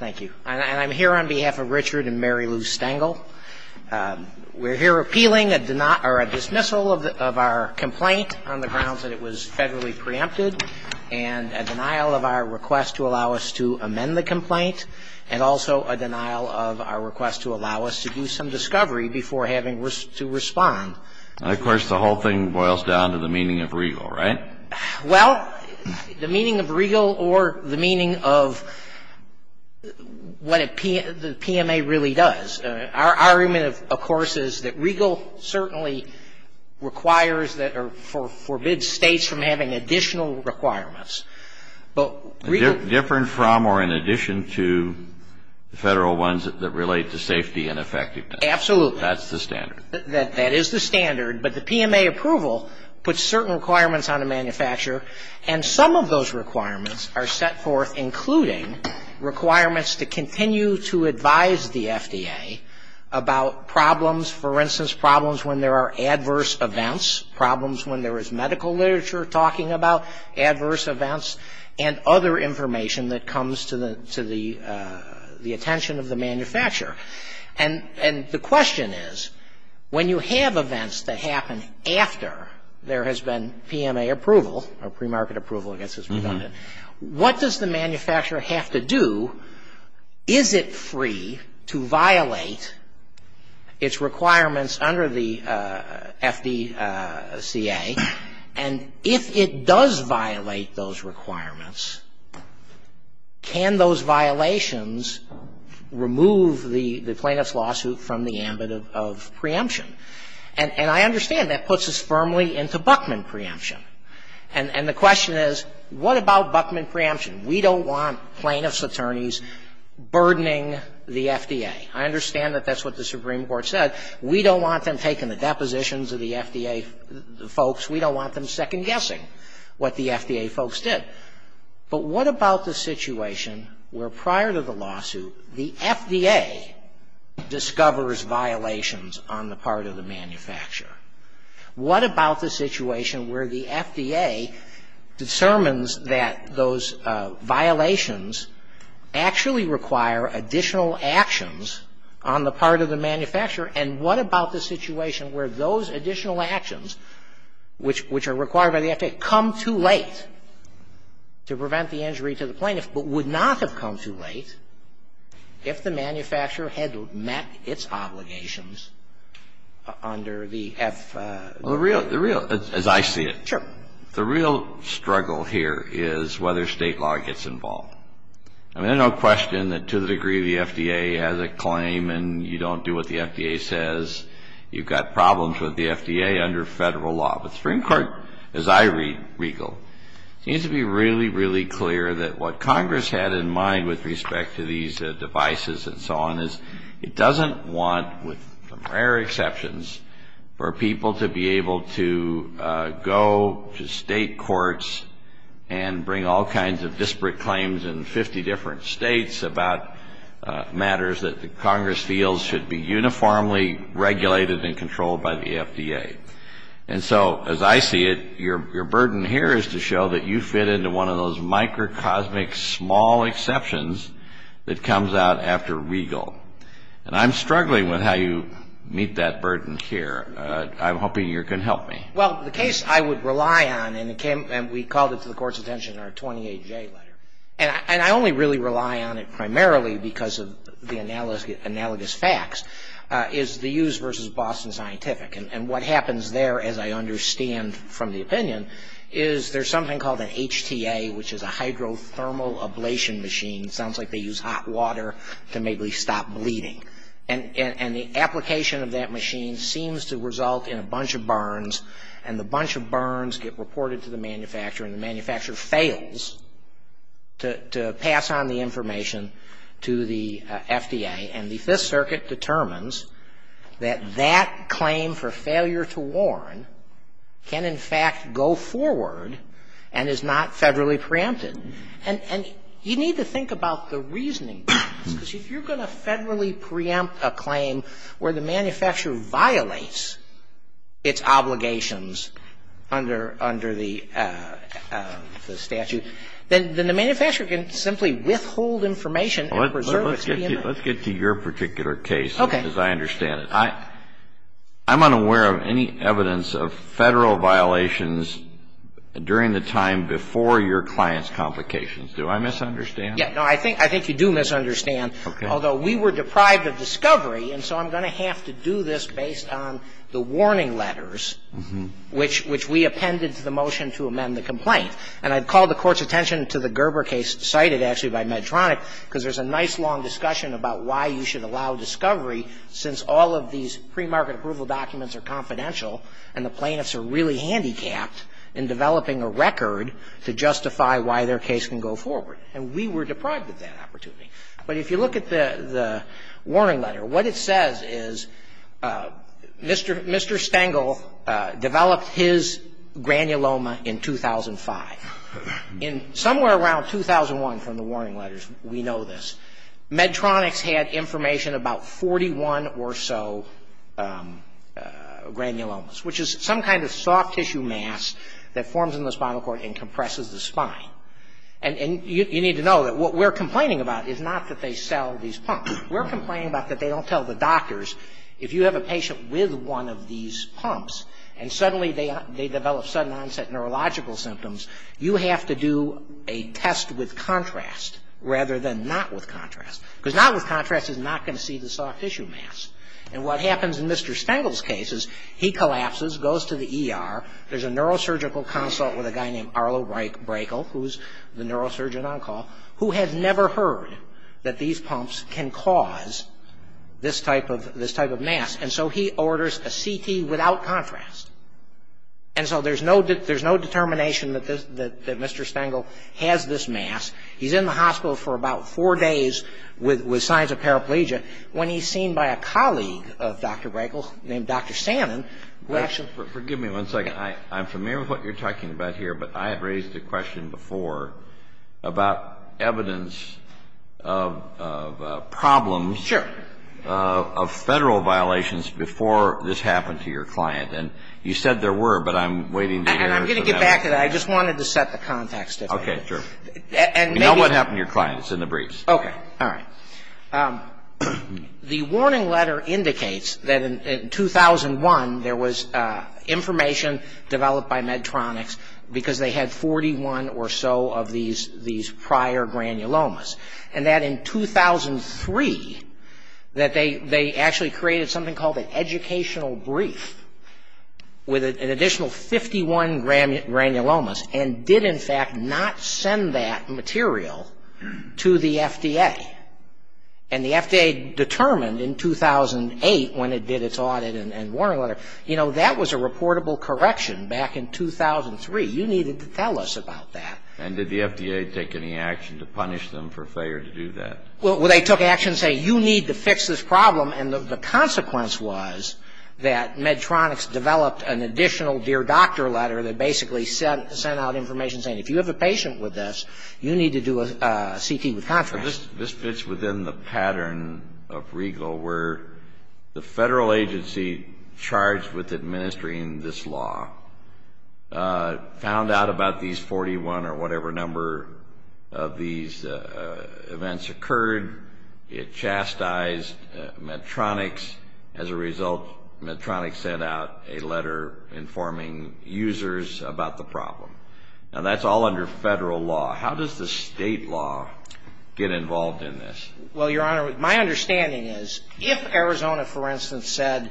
Thank you. And I'm here on behalf of Richard and Mary Lou Stengel. We're here appealing a dismissal of our complaint on the grounds that it was federally preempted, and a denial of our request to allow us to amend the complaint, and also a denial of our request to allow us to do some discovery before having to respond. Of course, the whole thing boils down to the meaning of regal, right? Well, the meaning of regal or the meaning of what the PMA really does. Our argument, of course, is that regal certainly requires or forbids states from having additional requirements. Different from or in addition to the federal ones that relate to safety and effectiveness. Absolutely. That's the standard. That is the standard. But the PMA approval puts certain requirements on a manufacturer, and some of those requirements are set forth, including requirements to continue to advise the FDA about problems, for instance, problems when there are adverse events, problems when there is medical literature talking about adverse events, and other information that comes to the attention of the manufacturer. And the question is, when you have events that happen after there has been PMA approval, or premarket approval, I guess is redundant, what does the manufacturer have to do? Is it free to violate its requirements under the FDCA? And if it does violate those requirements, can those violations remove the requirement of the FDA to continue to advise the FDA about problems? And I understand that puts us firmly into Buckman preemption. And the question is, what about Buckman preemption? We don't want plaintiffs' attorneys burdening the FDA. I understand that that's what the Supreme Court said. We don't want them taking the depositions of the FDA folks. We don't want them second-guessing what the FDA folks did. But what about the situation where, prior to the lawsuit, the FDA discovers violations on the part of the manufacturer? What about the situation where the FDA discerns that those violations actually require additional actions on the part of the manufacturer, and what about the situation where those additional actions, which are required by the FDA, come too late? To prevent the injury to the plaintiff, but would not have come too late if the manufacturer had met its obligations under the FDCA. Well, the real, the real, as I see it, the real struggle here is whether State law gets involved. I mean, there's no question that, to the degree the FDA has a claim and you don't do what the FDA says, you've got problems with the FDA under federal law. But the Supreme Court, as I read Regal, seems to be really, really clear that what Congress had in mind with respect to these devices and so on is it doesn't want, with rare exceptions, for people to be able to go to State courts and bring all kinds of disparate claims in 50 different States about matters that Congress feels should be uniformly regulated and controlled by the FDA. And so, as I see it, your burden here is to show that you fit into one of those microcosmic small exceptions that comes out after Regal. And I'm struggling with how you meet that burden here. I'm hoping you can help me. Well, the case I would rely on, and we called it to the Court's attention in our 28J letter, and I only really rely on it primarily because of the analogous facts, is the Hughes v. Boston Scientific. And what happens there, as I understand from the opinion, is there's something called an HTA, which is a hydrothermal ablation machine. It sounds like they use hot water to maybe stop bleeding. And the application of that machine seems to result in a bunch of burns. And the bunch of burns get reported to the manufacturer, and the manufacturer fails to pass on the information to the FDA. And the Fifth Circuit determines that that claim for failure to warn can, in fact, go forward and is not federally preempted. And you need to think about the reasoning. Because if you're going to federally preempt a claim where the manufacturer violates its obligations under the statute, then the manufacturer can simply withhold information. Let's get to your particular case. Okay. As I understand it. I'm unaware of any evidence of Federal violations during the time before your client's complications. Do I misunderstand? Yeah. No, I think you do misunderstand. Okay. Although we were deprived of discovery, and so I'm going to have to do this based on the warning letters, which we appended to the motion to amend the complaint. And I'd call the Court's attention to the Gerber case cited, actually, by Medtronic, because there's a nice long discussion about why you should allow discovery since all of these premarket approval documents are confidential and the plaintiffs are really handicapped in developing a record to justify why their case can go forward. And we were deprived of that opportunity. But if you look at the warning letter, what it says is Mr. Stengel developed his granuloma in 2005. In somewhere around 2001 from the warning letters, we know this, Medtronic's had information about 41 or so granulomas, which is some kind of soft tissue mass that forms in the spinal cord and compresses the spine. And you need to know that what we're complaining about is not that they sell these pumps. We're complaining about that they don't tell the doctors if you have a patient with one of these pumps and suddenly they develop sudden onset neurological symptoms, you have to do a test with contrast rather than not with contrast. Because not with contrast is not going to see the soft tissue mass. And what happens in Mr. Stengel's case is he collapses, goes to the ER. There's a neurosurgical consult with a guy named Arlo Brakel, who's the neurosurgeon on call, who has never heard that these pumps can cause this type of mass. And so he orders a CT without contrast. And so there's no determination that Mr. Stengel has this mass. He's in the hospital for about four days with signs of paraplegia. When he's seen by a colleague of Dr. Brakel's named Dr. Sannon, who actually — Forgive me one second. I'm familiar with what you're talking about here, but I have raised a question before about evidence of problems — Sure. — of Federal violations before this happened to your client. And you said there were, but I'm waiting to hear — And I'm going to get back to that. I just wanted to set the context a little bit. Okay. Sure. And maybe — You know what happened to your client. It's in the briefs. Okay. All right. The warning letter indicates that in 2001 there was information developed by Medtronics because they had 41 or so of these prior granulomas. And that in 2003, that they actually created something called an educational brief with an additional 51 granulomas and did, in fact, not send that material to the FDA. And the FDA determined in 2008 when it did its audit and warning letter, you know, that was a reportable correction back in 2003. You needed to tell us about that. And did the FDA take any action to punish them for failure to do that? Well, they took action saying, you need to fix this problem. And the consequence was that Medtronics developed an additional dear doctor letter that basically sent out information saying, if you have a patient with this, you need to do a CT with contrast. This fits within the pattern of Regal where the Federal agency charged with administering this law found out about these 41 or whatever number of these events occurred. It chastised Medtronics. As a result, Medtronics sent out a letter informing users about the problem. Now, that's all under Federal law. How does the State law get involved in this? Well, Your Honor, my understanding is if Arizona, for instance, had said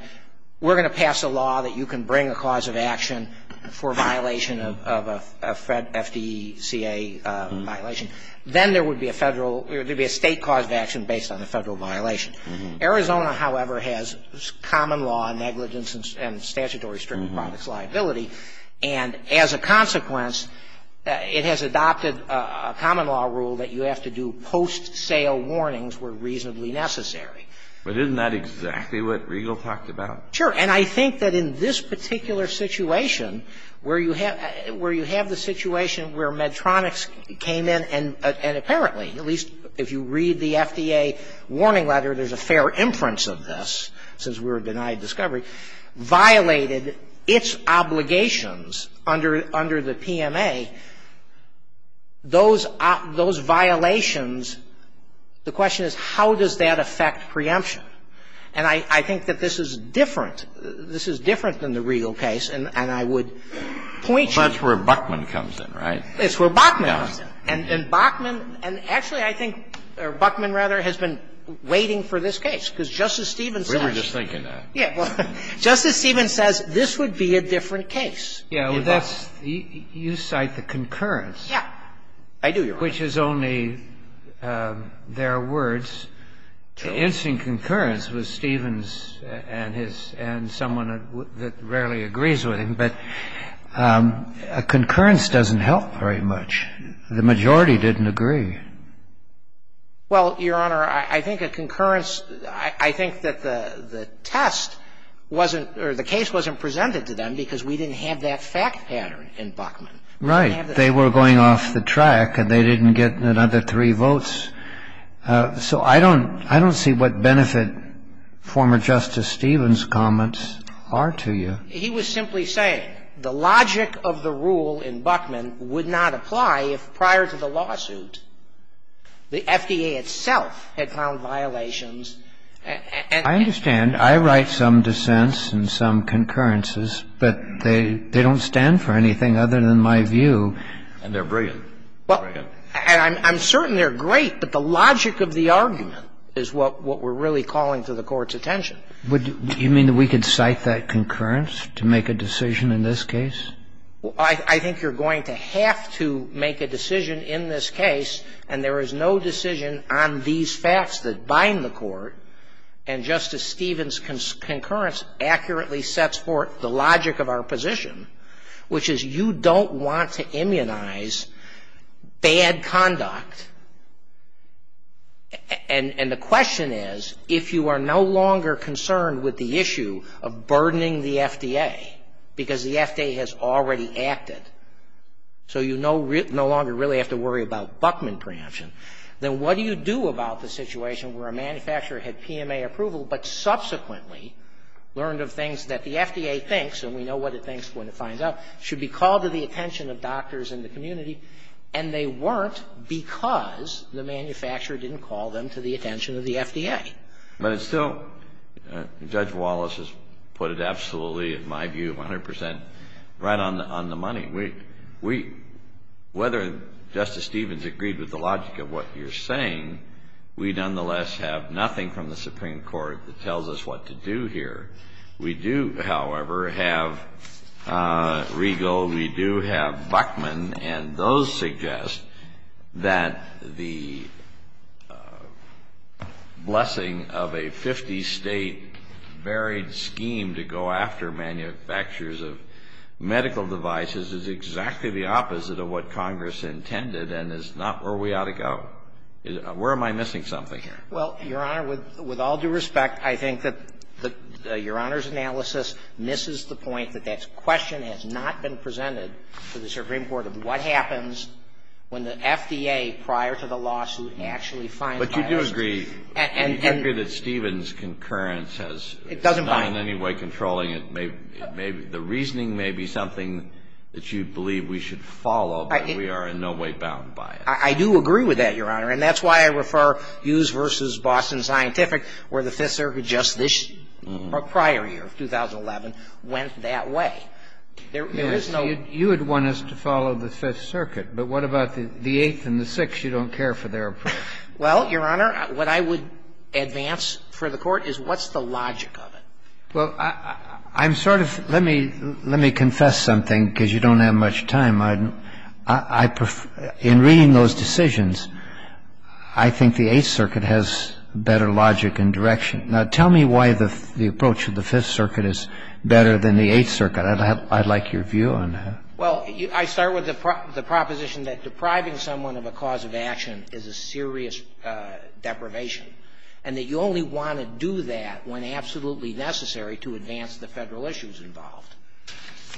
we're going to pass a law that you can bring a cause of action for violation of a FDCA violation, then there would be a Federal or there would be a State cause of action based on a Federal violation. Arizona, however, has common law negligence and statutory strict products liability. And as a consequence, it has adopted a common law rule that you have to do post-sale warnings where reasonably necessary. But isn't that exactly what Regal talked about? Sure. And I think that in this particular situation where you have the situation where Medtronics came in and apparently, at least if you read the FDA warning letter, there's a fair inference of this since we were denied discovery, violated its obligations under the PMA, those violations, the question is, how does that affect preemption? And I think that this is different. This is different than the Regal case. And I would point you to that. Well, that's where Buckman comes in, right? It's where Buckman comes in. And Buckman, and actually, I think, or Buckman, rather, has been waiting for this case, because Justice Stevens says. We were just thinking that. Yeah. Justice Stevens says this would be a different case. Yeah, well, that's the you cite the concurrence. Yeah. I do, Your Honor. Which is only their words. The instant concurrence was Stevens and someone that rarely agrees with him. But a concurrence doesn't help very much. The majority didn't agree. Well, Your Honor, I think a concurrence, I think that the test wasn't, or the case wasn't presented to them because we didn't have that fact pattern in Buckman. Right. They were going off the track and they didn't get another three votes. So I don't see what benefit former Justice Stevens' comments are to you. He was simply saying the logic of the rule in Buckman would not apply if prior to the lawsuit the FDA itself had found violations and I understand. I write some dissents and some concurrences. But they don't stand for anything other than my view. And they're brilliant. Well, I'm certain they're great, but the logic of the argument is what we're really calling to the Court's attention. Do you mean that we could cite that concurrence to make a decision in this case? I think you're going to have to make a decision in this case, and there is no decision on these facts that bind the Court. And Justice Stevens' concurrence accurately sets forth the logic of our position, which is you don't want to immunize bad conduct. And the question is, if you are no longer concerned with the issue of burdening the FDA because the FDA has already acted, so you no longer really have to worry about Buckman preemption, then what do you do about the situation where a manufacturer had PMA approval but subsequently learned of things that the FDA thinks, and we know what it thinks when it finds out, should be called to the attention of doctors in the community, and they weren't because the manufacturer didn't call them to the attention of the FDA? But it's still, Judge Wallace has put it absolutely, in my view, 100 percent right on the money. We, whether Justice Stevens agreed with the logic of what you're saying, we nonetheless have nothing from the Supreme Court that tells us what to do here. We do, however, have Regal. We do have Buckman. And those suggest that the blessing of a 50-state varied scheme to go after manufacturers of medical devices is exactly the opposite of what Congress intended and is not where we ought to go. Where am I missing something here? Well, Your Honor, with all due respect, I think that Your Honor's analysis misses the point that that question has not been presented to the Supreme Court of what happens when the FDA, prior to the lawsuit, actually finds buyers. But you do agree that Stevens' concurrence has not in any way controlling it. It doesn't bind. The reasoning may be something that you believe we should follow, but we are in no way bound by it. I do agree with that, Your Honor. And that's why I refer Hughes v. Boston Scientific, where the Fifth Circuit just this prior year, 2011, went that way. There is no ---- You would want us to follow the Fifth Circuit, but what about the Eighth and the Sixth? You don't care for their approach. Well, Your Honor, what I would advance for the Court is what's the logic of it? Well, I'm sort of ---- let me confess something, because you don't have much time. In reading those decisions, I think the Eighth Circuit has better logic and direction. Now, tell me why the approach of the Fifth Circuit is better than the Eighth Circuit. I'd like your view on that. Well, I start with the proposition that depriving someone of a cause of action is a serious deprivation, and that you only want to do that when absolutely necessary to advance the Federal issues involved.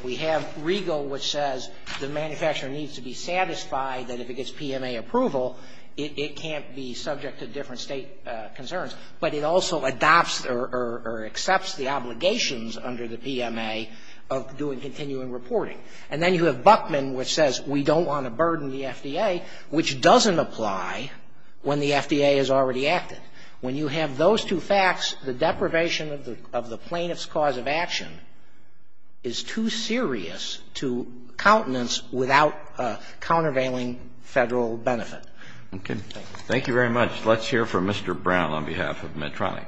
We have Regal, which says the manufacturer needs to be satisfied that if it gets PMA approval, it can't be subject to different State concerns. But it also adopts or accepts the obligations under the PMA of doing continuing reporting. And then you have Buckman, which says we don't want to burden the FDA, which doesn't apply when the FDA is already active. When you have those two facts, the deprivation of the plaintiff's cause of action is too serious to countenance without countervailing Federal benefit. Okay. Thank you very much. Let's hear from Mr. Brown on behalf of Medtronic.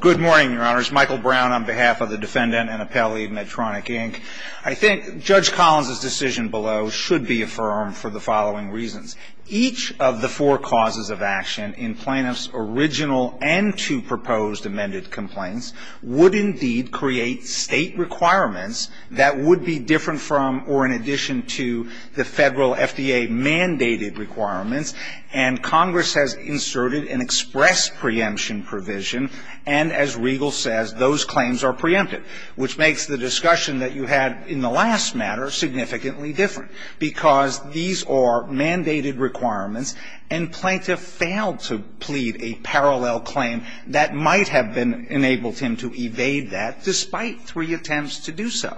Good morning, Your Honors. Michael Brown on behalf of the defendant and appellee of Medtronic, Inc. I think Judge Collins' decision below should be affirmed for the following reasons. Each of the four causes of action in plaintiff's original and two proposed amended complaints would indeed create State requirements that would be different from or in addition to the Federal FDA-mandated requirements. And Congress has inserted an express preemption provision. And as Regal says, those claims are preempted, which makes the discussion that you had in the last matter significantly different, because these are mandated requirements and plaintiff failed to plead a parallel claim that might have enabled him to evade that despite three attempts to do so.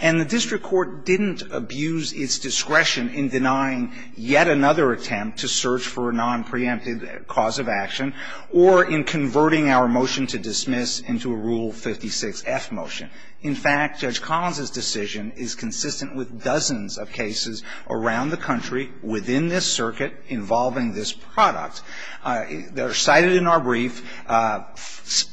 And the district court didn't abuse its discretion in denying yet another attempt to search for a nonpreemptive cause of action or in converting our motion to dismiss into a Rule 56-F motion. In fact, Judge Collins' decision is consistent with dozens of cases around the country within this circuit involving this product that are cited in our brief.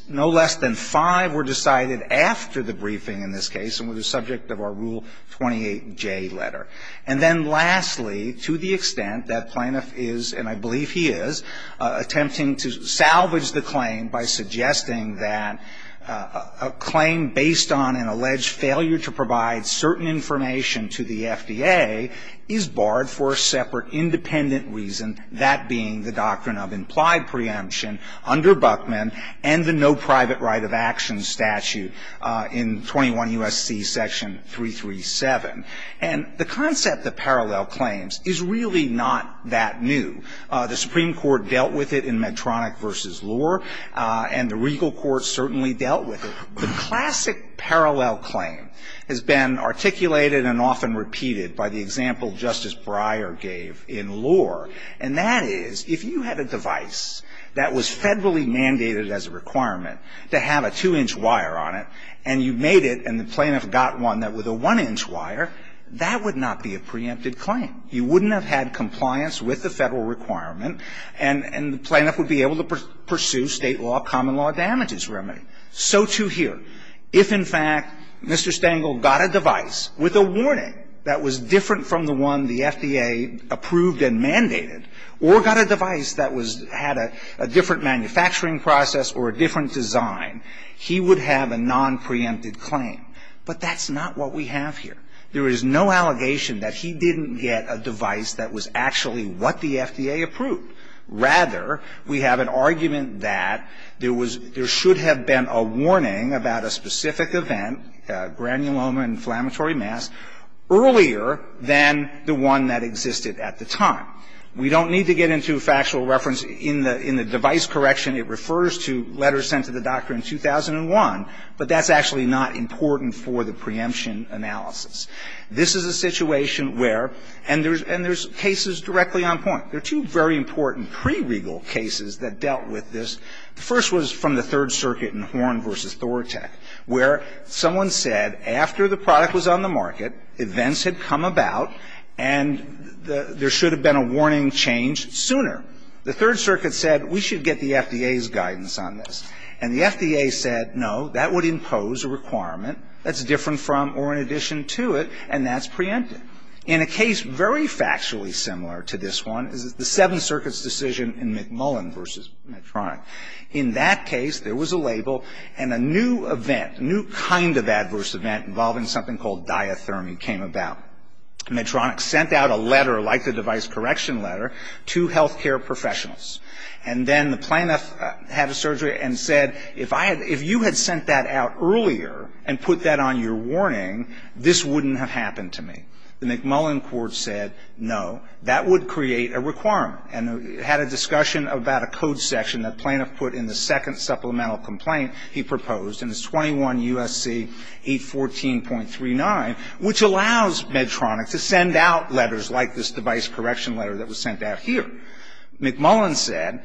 No less than five were decided after the briefing in this case and were the subject of our Rule 28J letter. And then lastly, to the extent that plaintiff is, and I believe he is, attempting to salvage the claim by suggesting that a claim based on an alleged failure to provide certain information to the FDA is barred for a separate independent reason, that being the doctrine of implied preemption under Buckman and the no private right of action statute in 21 U.S.C. section 337. And the concept of parallel claims is really not that new. The Supreme Court dealt with it in Medtronic v. Lohr, and the Regal Court certainly dealt with it. The classic parallel claim has been articulated and often repeated by the example Justice Breyer gave in Lohr, and that is, if you had a device that was federally mandated as a requirement to have a 2-inch wire on it, and you made it and the plaintiff got one with a 1-inch wire, that would not be a preempted claim. You wouldn't have had compliance with the Federal requirement, and the plaintiff would be able to pursue State law, common law damages remedy. So, too, here. If, in fact, Mr. Stengel got a device with a warning that was different from the one the FDA approved and mandated, or got a device that was had a different manufacturing process or a different design, he would have a nonpreempted claim. But that's not what we have here. There is no allegation that he didn't get a device that was actually what the FDA approved. Rather, we have an argument that there was – there should have been a warning about a specific event, granuloma, inflammatory mass, earlier than the one that existed at the time. We don't need to get into factual reference in the device correction. It refers to letters sent to the doctor in 2001, but that's actually not important for the preemption analysis. This is a situation where – and there's cases directly on point. There are two very important pre-regal cases that dealt with this. The first was from the Third Circuit in Horne v. Thoratech, where someone said, after the product was on the market, events had come about, and there should have been a warning change sooner. The Third Circuit said, we should get the FDA's guidance on this. And the FDA said, no, that would impose a requirement that's different from or in addition to it, and that's preempted. In a case very factually similar to this one is the Seventh Circuit's decision in McMullen v. Medtronic. In that case, there was a label, and a new event, a new kind of adverse event involving something called diathermy came about. Medtronic sent out a letter, like the device correction letter, to health care professionals. And then the plaintiff had a surgery and said, if you had sent that out earlier and put that on your warning, this wouldn't have happened to me. The McMullen court said, no, that would create a requirement. And it had a discussion about a code section that the plaintiff put in the second supplemental complaint he proposed in his 21 U.S.C. 814.39, which allows Medtronic to send out letters like this device correction letter that was sent out here. McMullen said,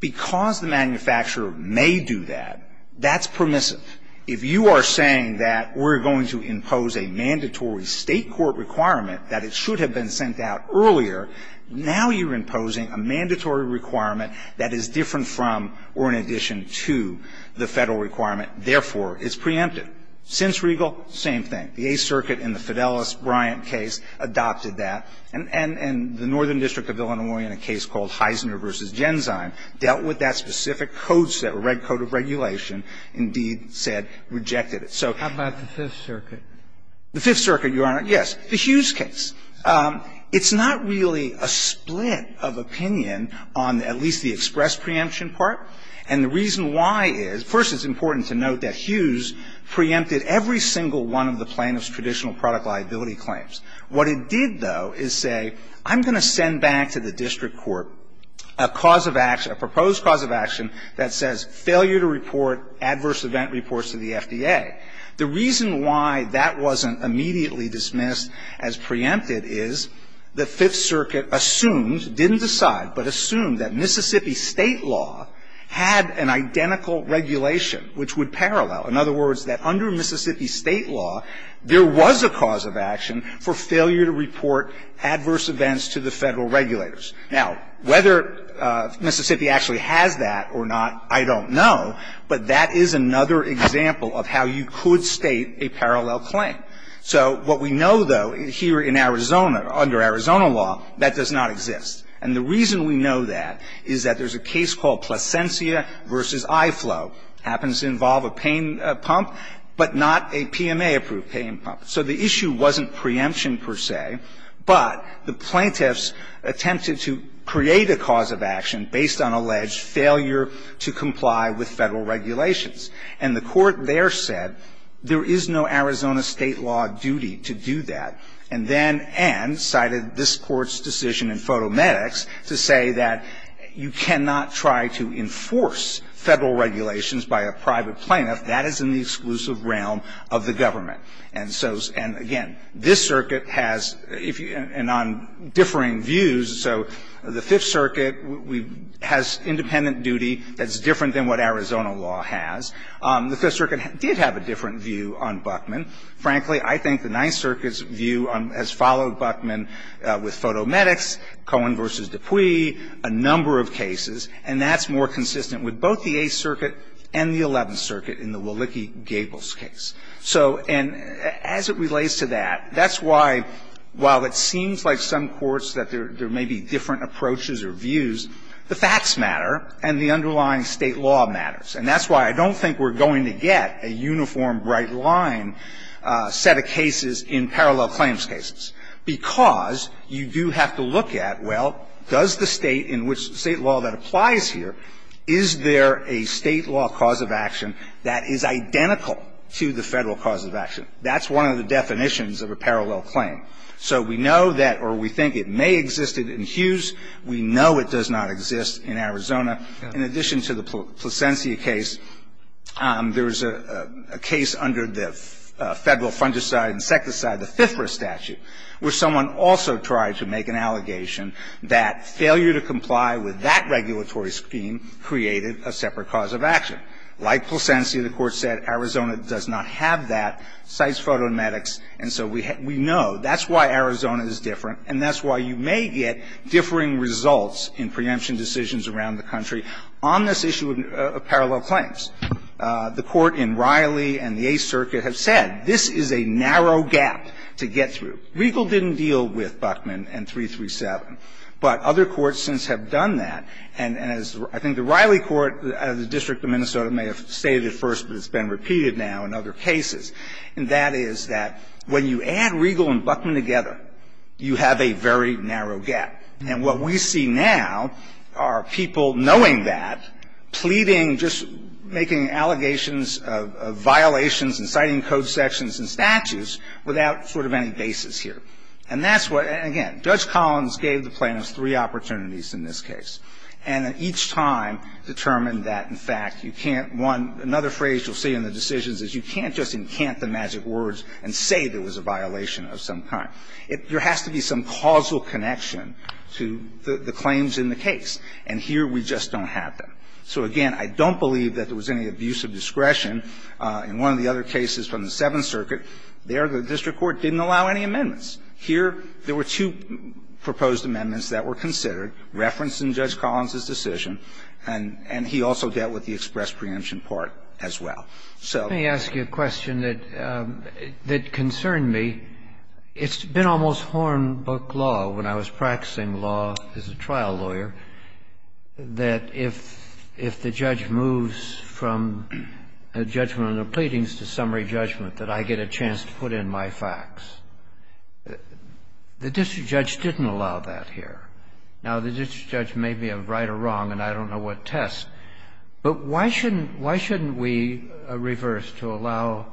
because the manufacturer may do that, that's permissive. If you are saying that we're going to impose a mandatory State court requirement that it should have been sent out earlier, now you're imposing a mandatory requirement that is different from or in addition to the Federal requirement, therefore, it's preempted. Since Regal, same thing. The Eighth Circuit in the Fidelis-Briant case adopted that. And the Northern District of Illinois, in a case called Heisner v. Genzyme, dealt with that specific code set, the red code of regulation, indeed said rejected it. So the Fifth Circuit, Your Honor, yes, the Hughes case. It's not really a split of opinion on at least the express preemption part. And the reason why is, first, it's important to note that Hughes preempted every single one of the plaintiff's traditional product liability claims. What it did, though, is say, I'm going to send back to the district court a cause of action, a proposed cause of action that says failure to report adverse event reports to the FDA. The reason why that wasn't immediately dismissed as preempted is the Fifth Circuit assumed, didn't decide, but assumed that Mississippi State law had an identical regulation which would parallel. In other words, that under Mississippi State law, there was a cause of action for failure to report adverse events to the Federal regulators. Now, whether Mississippi actually has that or not, I don't know, but that is another example of how you could state a parallel claim. So what we know, though, here in Arizona, under Arizona law, that does not exist. And the reason we know that is that there's a case called Plasencia v. Iflow. It happens to involve a pain pump, but not a PMA-approved pain pump. So the issue wasn't preemption, per se, but the plaintiffs attempted to create a cause of action based on alleged failure to comply with Federal regulations. And the Court there said there is no Arizona State law duty to do that, and then ended, cited this Court's decision in Fotomedics, to say that you cannot try to enforce Federal regulations by a private plaintiff. That is in the exclusive realm of the government. And so, and again, this circuit has, and on differing views, so the Fifth Circuit has independent duty that's different than what Arizona law has. The Fifth Circuit did have a different view on Buckman. Frankly, I think the Ninth Circuit's view has followed Buckman with Fotomedics, Cohen v. Dupuy, a number of cases, and that's more consistent with both the Eighth Circuit and the Eleventh Circuit in the Walicki-Gables case. So, and as it relates to that, that's why, while it seems like some courts that there may be different approaches or views, the facts matter and the underlying State law matters. And that's why I don't think we're going to get a uniform, bright-line set of cases in parallel claims cases, because you do have to look at, well, does the State in which State law that applies here, is there a State law cause of action that is identical to the Federal cause of action? That's one of the definitions of a parallel claim. So we know that, or we think it may exist in Hughes. We know it does not exist in Arizona. In addition to the Placencia case, there was a case under the Federal fungicide and insecticide, the FIFRA statute, where someone also tried to make an allegation that failure to comply with that regulatory scheme created a separate cause of action. Like Placencia, the Court said Arizona does not have that, cites photoemetics. And so we know that's why Arizona is different, and that's why you may get differing results in preemption decisions around the country on this issue of parallel claims. The Court in Riley and the Eighth Circuit have said this is a narrow gap to get through. Regal didn't deal with Buckman and 337, but other courts since have done that. And as I think the Riley Court, the District of Minnesota may have stated it first, but it's been repeated now in other cases. And that is that when you add Regal and Buckman together, you have a very narrow gap. And what we see now are people knowing that, pleading, just making allegations of violations and citing code sections and statutes without sort of any basis here. And that's what – and again, Judge Collins gave the plaintiffs three opportunities in this case. And at each time determined that, in fact, you can't – one, another phrase you'll see in the decisions is you can't just encant the magic words and say there was a violation of some kind. There has to be some causal connection to the claims in the case, and here we just don't have that. So, again, I don't believe that there was any abuse of discretion in one of the other cases from the Seventh Circuit. There, the district court didn't allow any amendments. Here, there were two proposed amendments that were considered, referenced in Judge Collins's decision, and he also dealt with the express preemption part as well. So the question that concerned me, it's been almost hornbook law when I was practicing law as a trial lawyer that if the judge moves from a judgment of pleadings to summary judgment, that I get a chance to put in my facts. The district judge didn't allow that here. Now, the district judge may be right or wrong, and I don't know what tests, but why shouldn't – why shouldn't we reverse to allow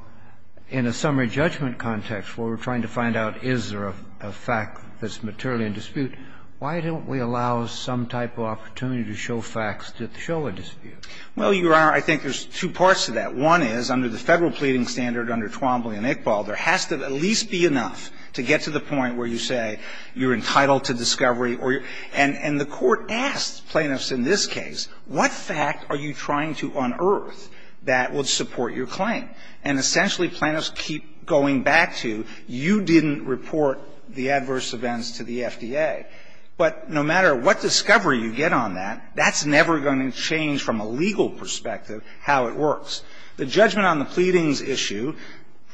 in a summary judgment context where we're trying to find out is there a fact that's materially in dispute, why don't we allow some type of opportunity to show facts that show a dispute? Well, Your Honor, I think there's two parts to that. One is, under the Federal pleading standard under Twombly and Iqbal, there has to at least be enough to get to the point where you say you're entitled to discovery or you're – and the Court asked plaintiffs in this case, what fact are you trying to unearth that would support your claim? And essentially, plaintiffs keep going back to, you didn't report the adverse events to the FDA. But no matter what discovery you get on that, that's never going to change from a legal perspective how it works. The judgment on the pleadings issue,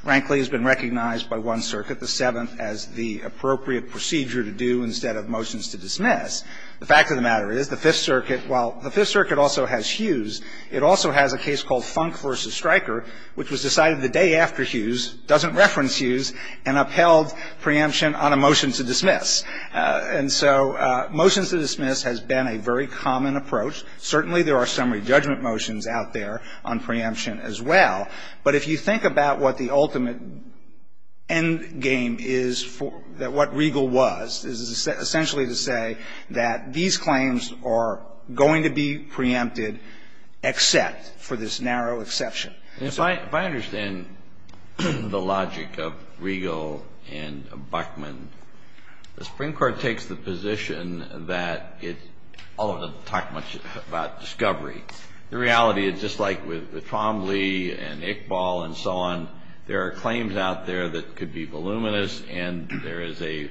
frankly, has been recognized by one circuit, the Seventh, as the appropriate procedure to do instead of motions to dismiss. The fact of the matter is the Fifth Circuit, while the Fifth Circuit also has Hughes, it also has a case called Funk v. Stryker, which was decided the day after Hughes, doesn't reference Hughes, and upheld preemption on a motion to dismiss. And so motions to dismiss has been a very common approach. Certainly, there are summary judgment motions out there on preemption as well. But if you think about what the ultimate end game is for – what Riegel was, is essentially to say that these claims are going to be preempted, except for this narrow exception. Kennedy, if I understand the logic of Riegel and Buckman, the Supreme Court takes the position that it – although it doesn't talk much about discovery, the reality is just like with Tom Lee and Iqbal and so on, there are claims out there that could be voluminous, and there is a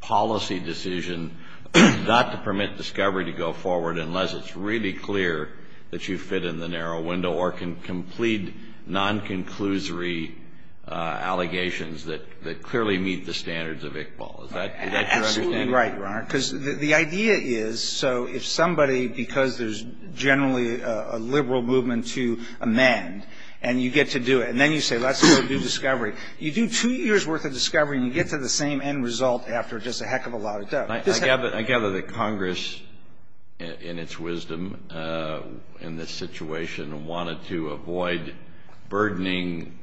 policy decision not to permit discovery to go forward unless it's really clear that you fit in the narrow window or can complete non-conclusory allegations that clearly meet the standards of Iqbal. Is that your understanding? Right, Your Honor. Because the idea is, so if somebody, because there's generally a liberal movement to amend, and you get to do it, and then you say, let's go do discovery, you do two years' worth of discovery, and you get to the same end result after just a heck of a lot of doubt. I gather that Congress, in its wisdom in this situation, wanted to avoid burdening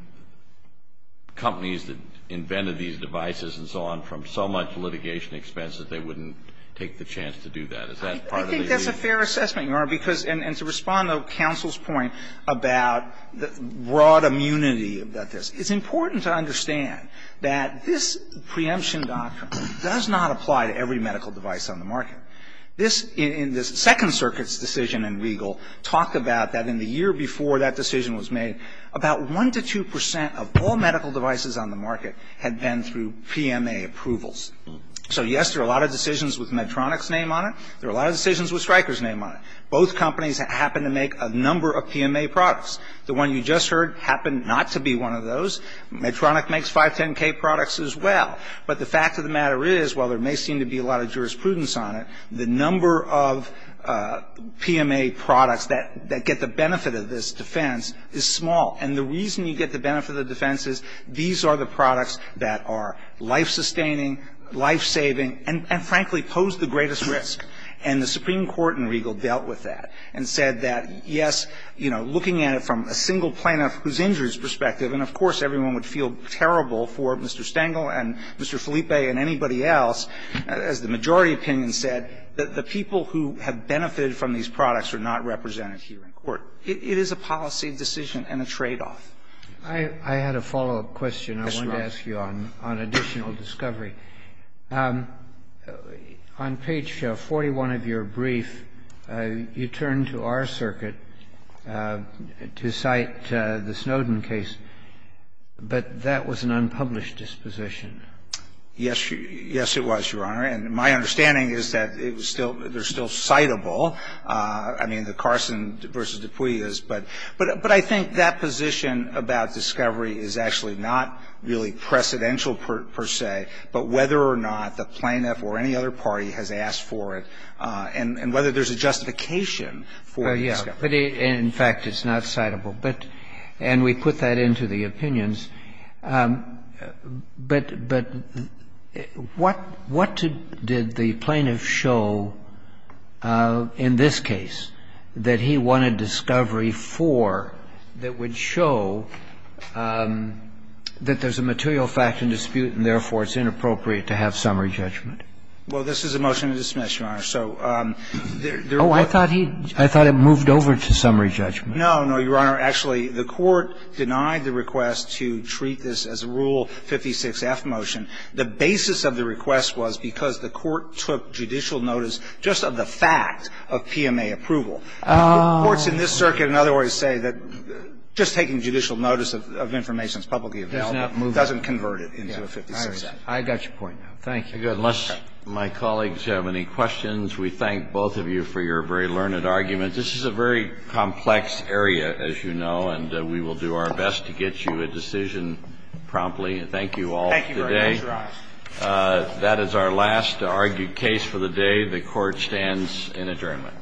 companies that invented these devices and so on from so much litigation expense that they wouldn't take the chance to do that. Is that part of the issue? I think that's a fair assessment, Your Honor, because – and to respond to counsel's point about the broad immunity about this, it's important to understand that this preemption doctrine does not apply to every medical device on the market. This – in the Second Circuit's decision in Riegel talked about that in the year before that decision was made, about 1 to 2 percent of all medical devices on the market had been through PMA approvals. So yes, there are a lot of decisions with Medtronic's name on it. There are a lot of decisions with Stryker's name on it. Both companies happen to make a number of PMA products. The one you just heard happened not to be one of those. Medtronic makes 510K products as well. But the fact of the matter is, while there may seem to be a lot of jurisprudence on it, the number of PMA products that get the benefit of this defense is small. And the reason you get the benefit of the defense is these are the products that are life-sustaining, life-saving, and, frankly, pose the greatest risk. And the Supreme Court in Riegel dealt with that and said that, yes, you know, looking at it from a single plaintiff who's injured's perspective, and of course, everyone would feel terrible for Mr. Stengel and Mr. Felipe and anybody else, as the majority opinion said, that the people who have benefited from these products are not represented here in court. It is a policy decision and a tradeoff. I had a follow-up question I wanted to ask you on additional discovery. On page 41 of your brief, you turn to our circuit to cite the Snowden case, but that was an unpublished disposition. Yes, it was, Your Honor, and my understanding is that it was still ‑‑ they're still citable. I mean, the Carson v. Dupuy is, but I think that position about discovery is actually not really precedential, per se, but whether or not the plaintiff or any other party has asked for it and whether there's a justification for the discovery. Well, yes, but in fact, it's not citable, but ‑‑ and we put that into the opinions. But what did the plaintiff show in this case that he wanted discovery for that would show that there's a material fact in dispute and therefore it's inappropriate to have summary judgment? Well, this is a motion to dismiss, Your Honor, so there was ‑‑ Oh, I thought he ‑‑ I thought it moved over to summary judgment. No, no, Your Honor. Actually, the Court denied the request to treat this as a Rule 56-F motion. The basis of the request was because the Court took judicial notice just of the fact of PMA approval. The courts in this circuit, in other words, say that just taking judicial notice of information that's publicly available doesn't convert it into a 56-F. I got your point. Thank you. Unless my colleagues have any questions, we thank both of you for your very learned argument. This is a very complex area, as you know, and we will do our best to get you a decision promptly. Thank you all for today. Thank you very much, Your Honor. That is our last argued case for the day. The Court stands in adjournment.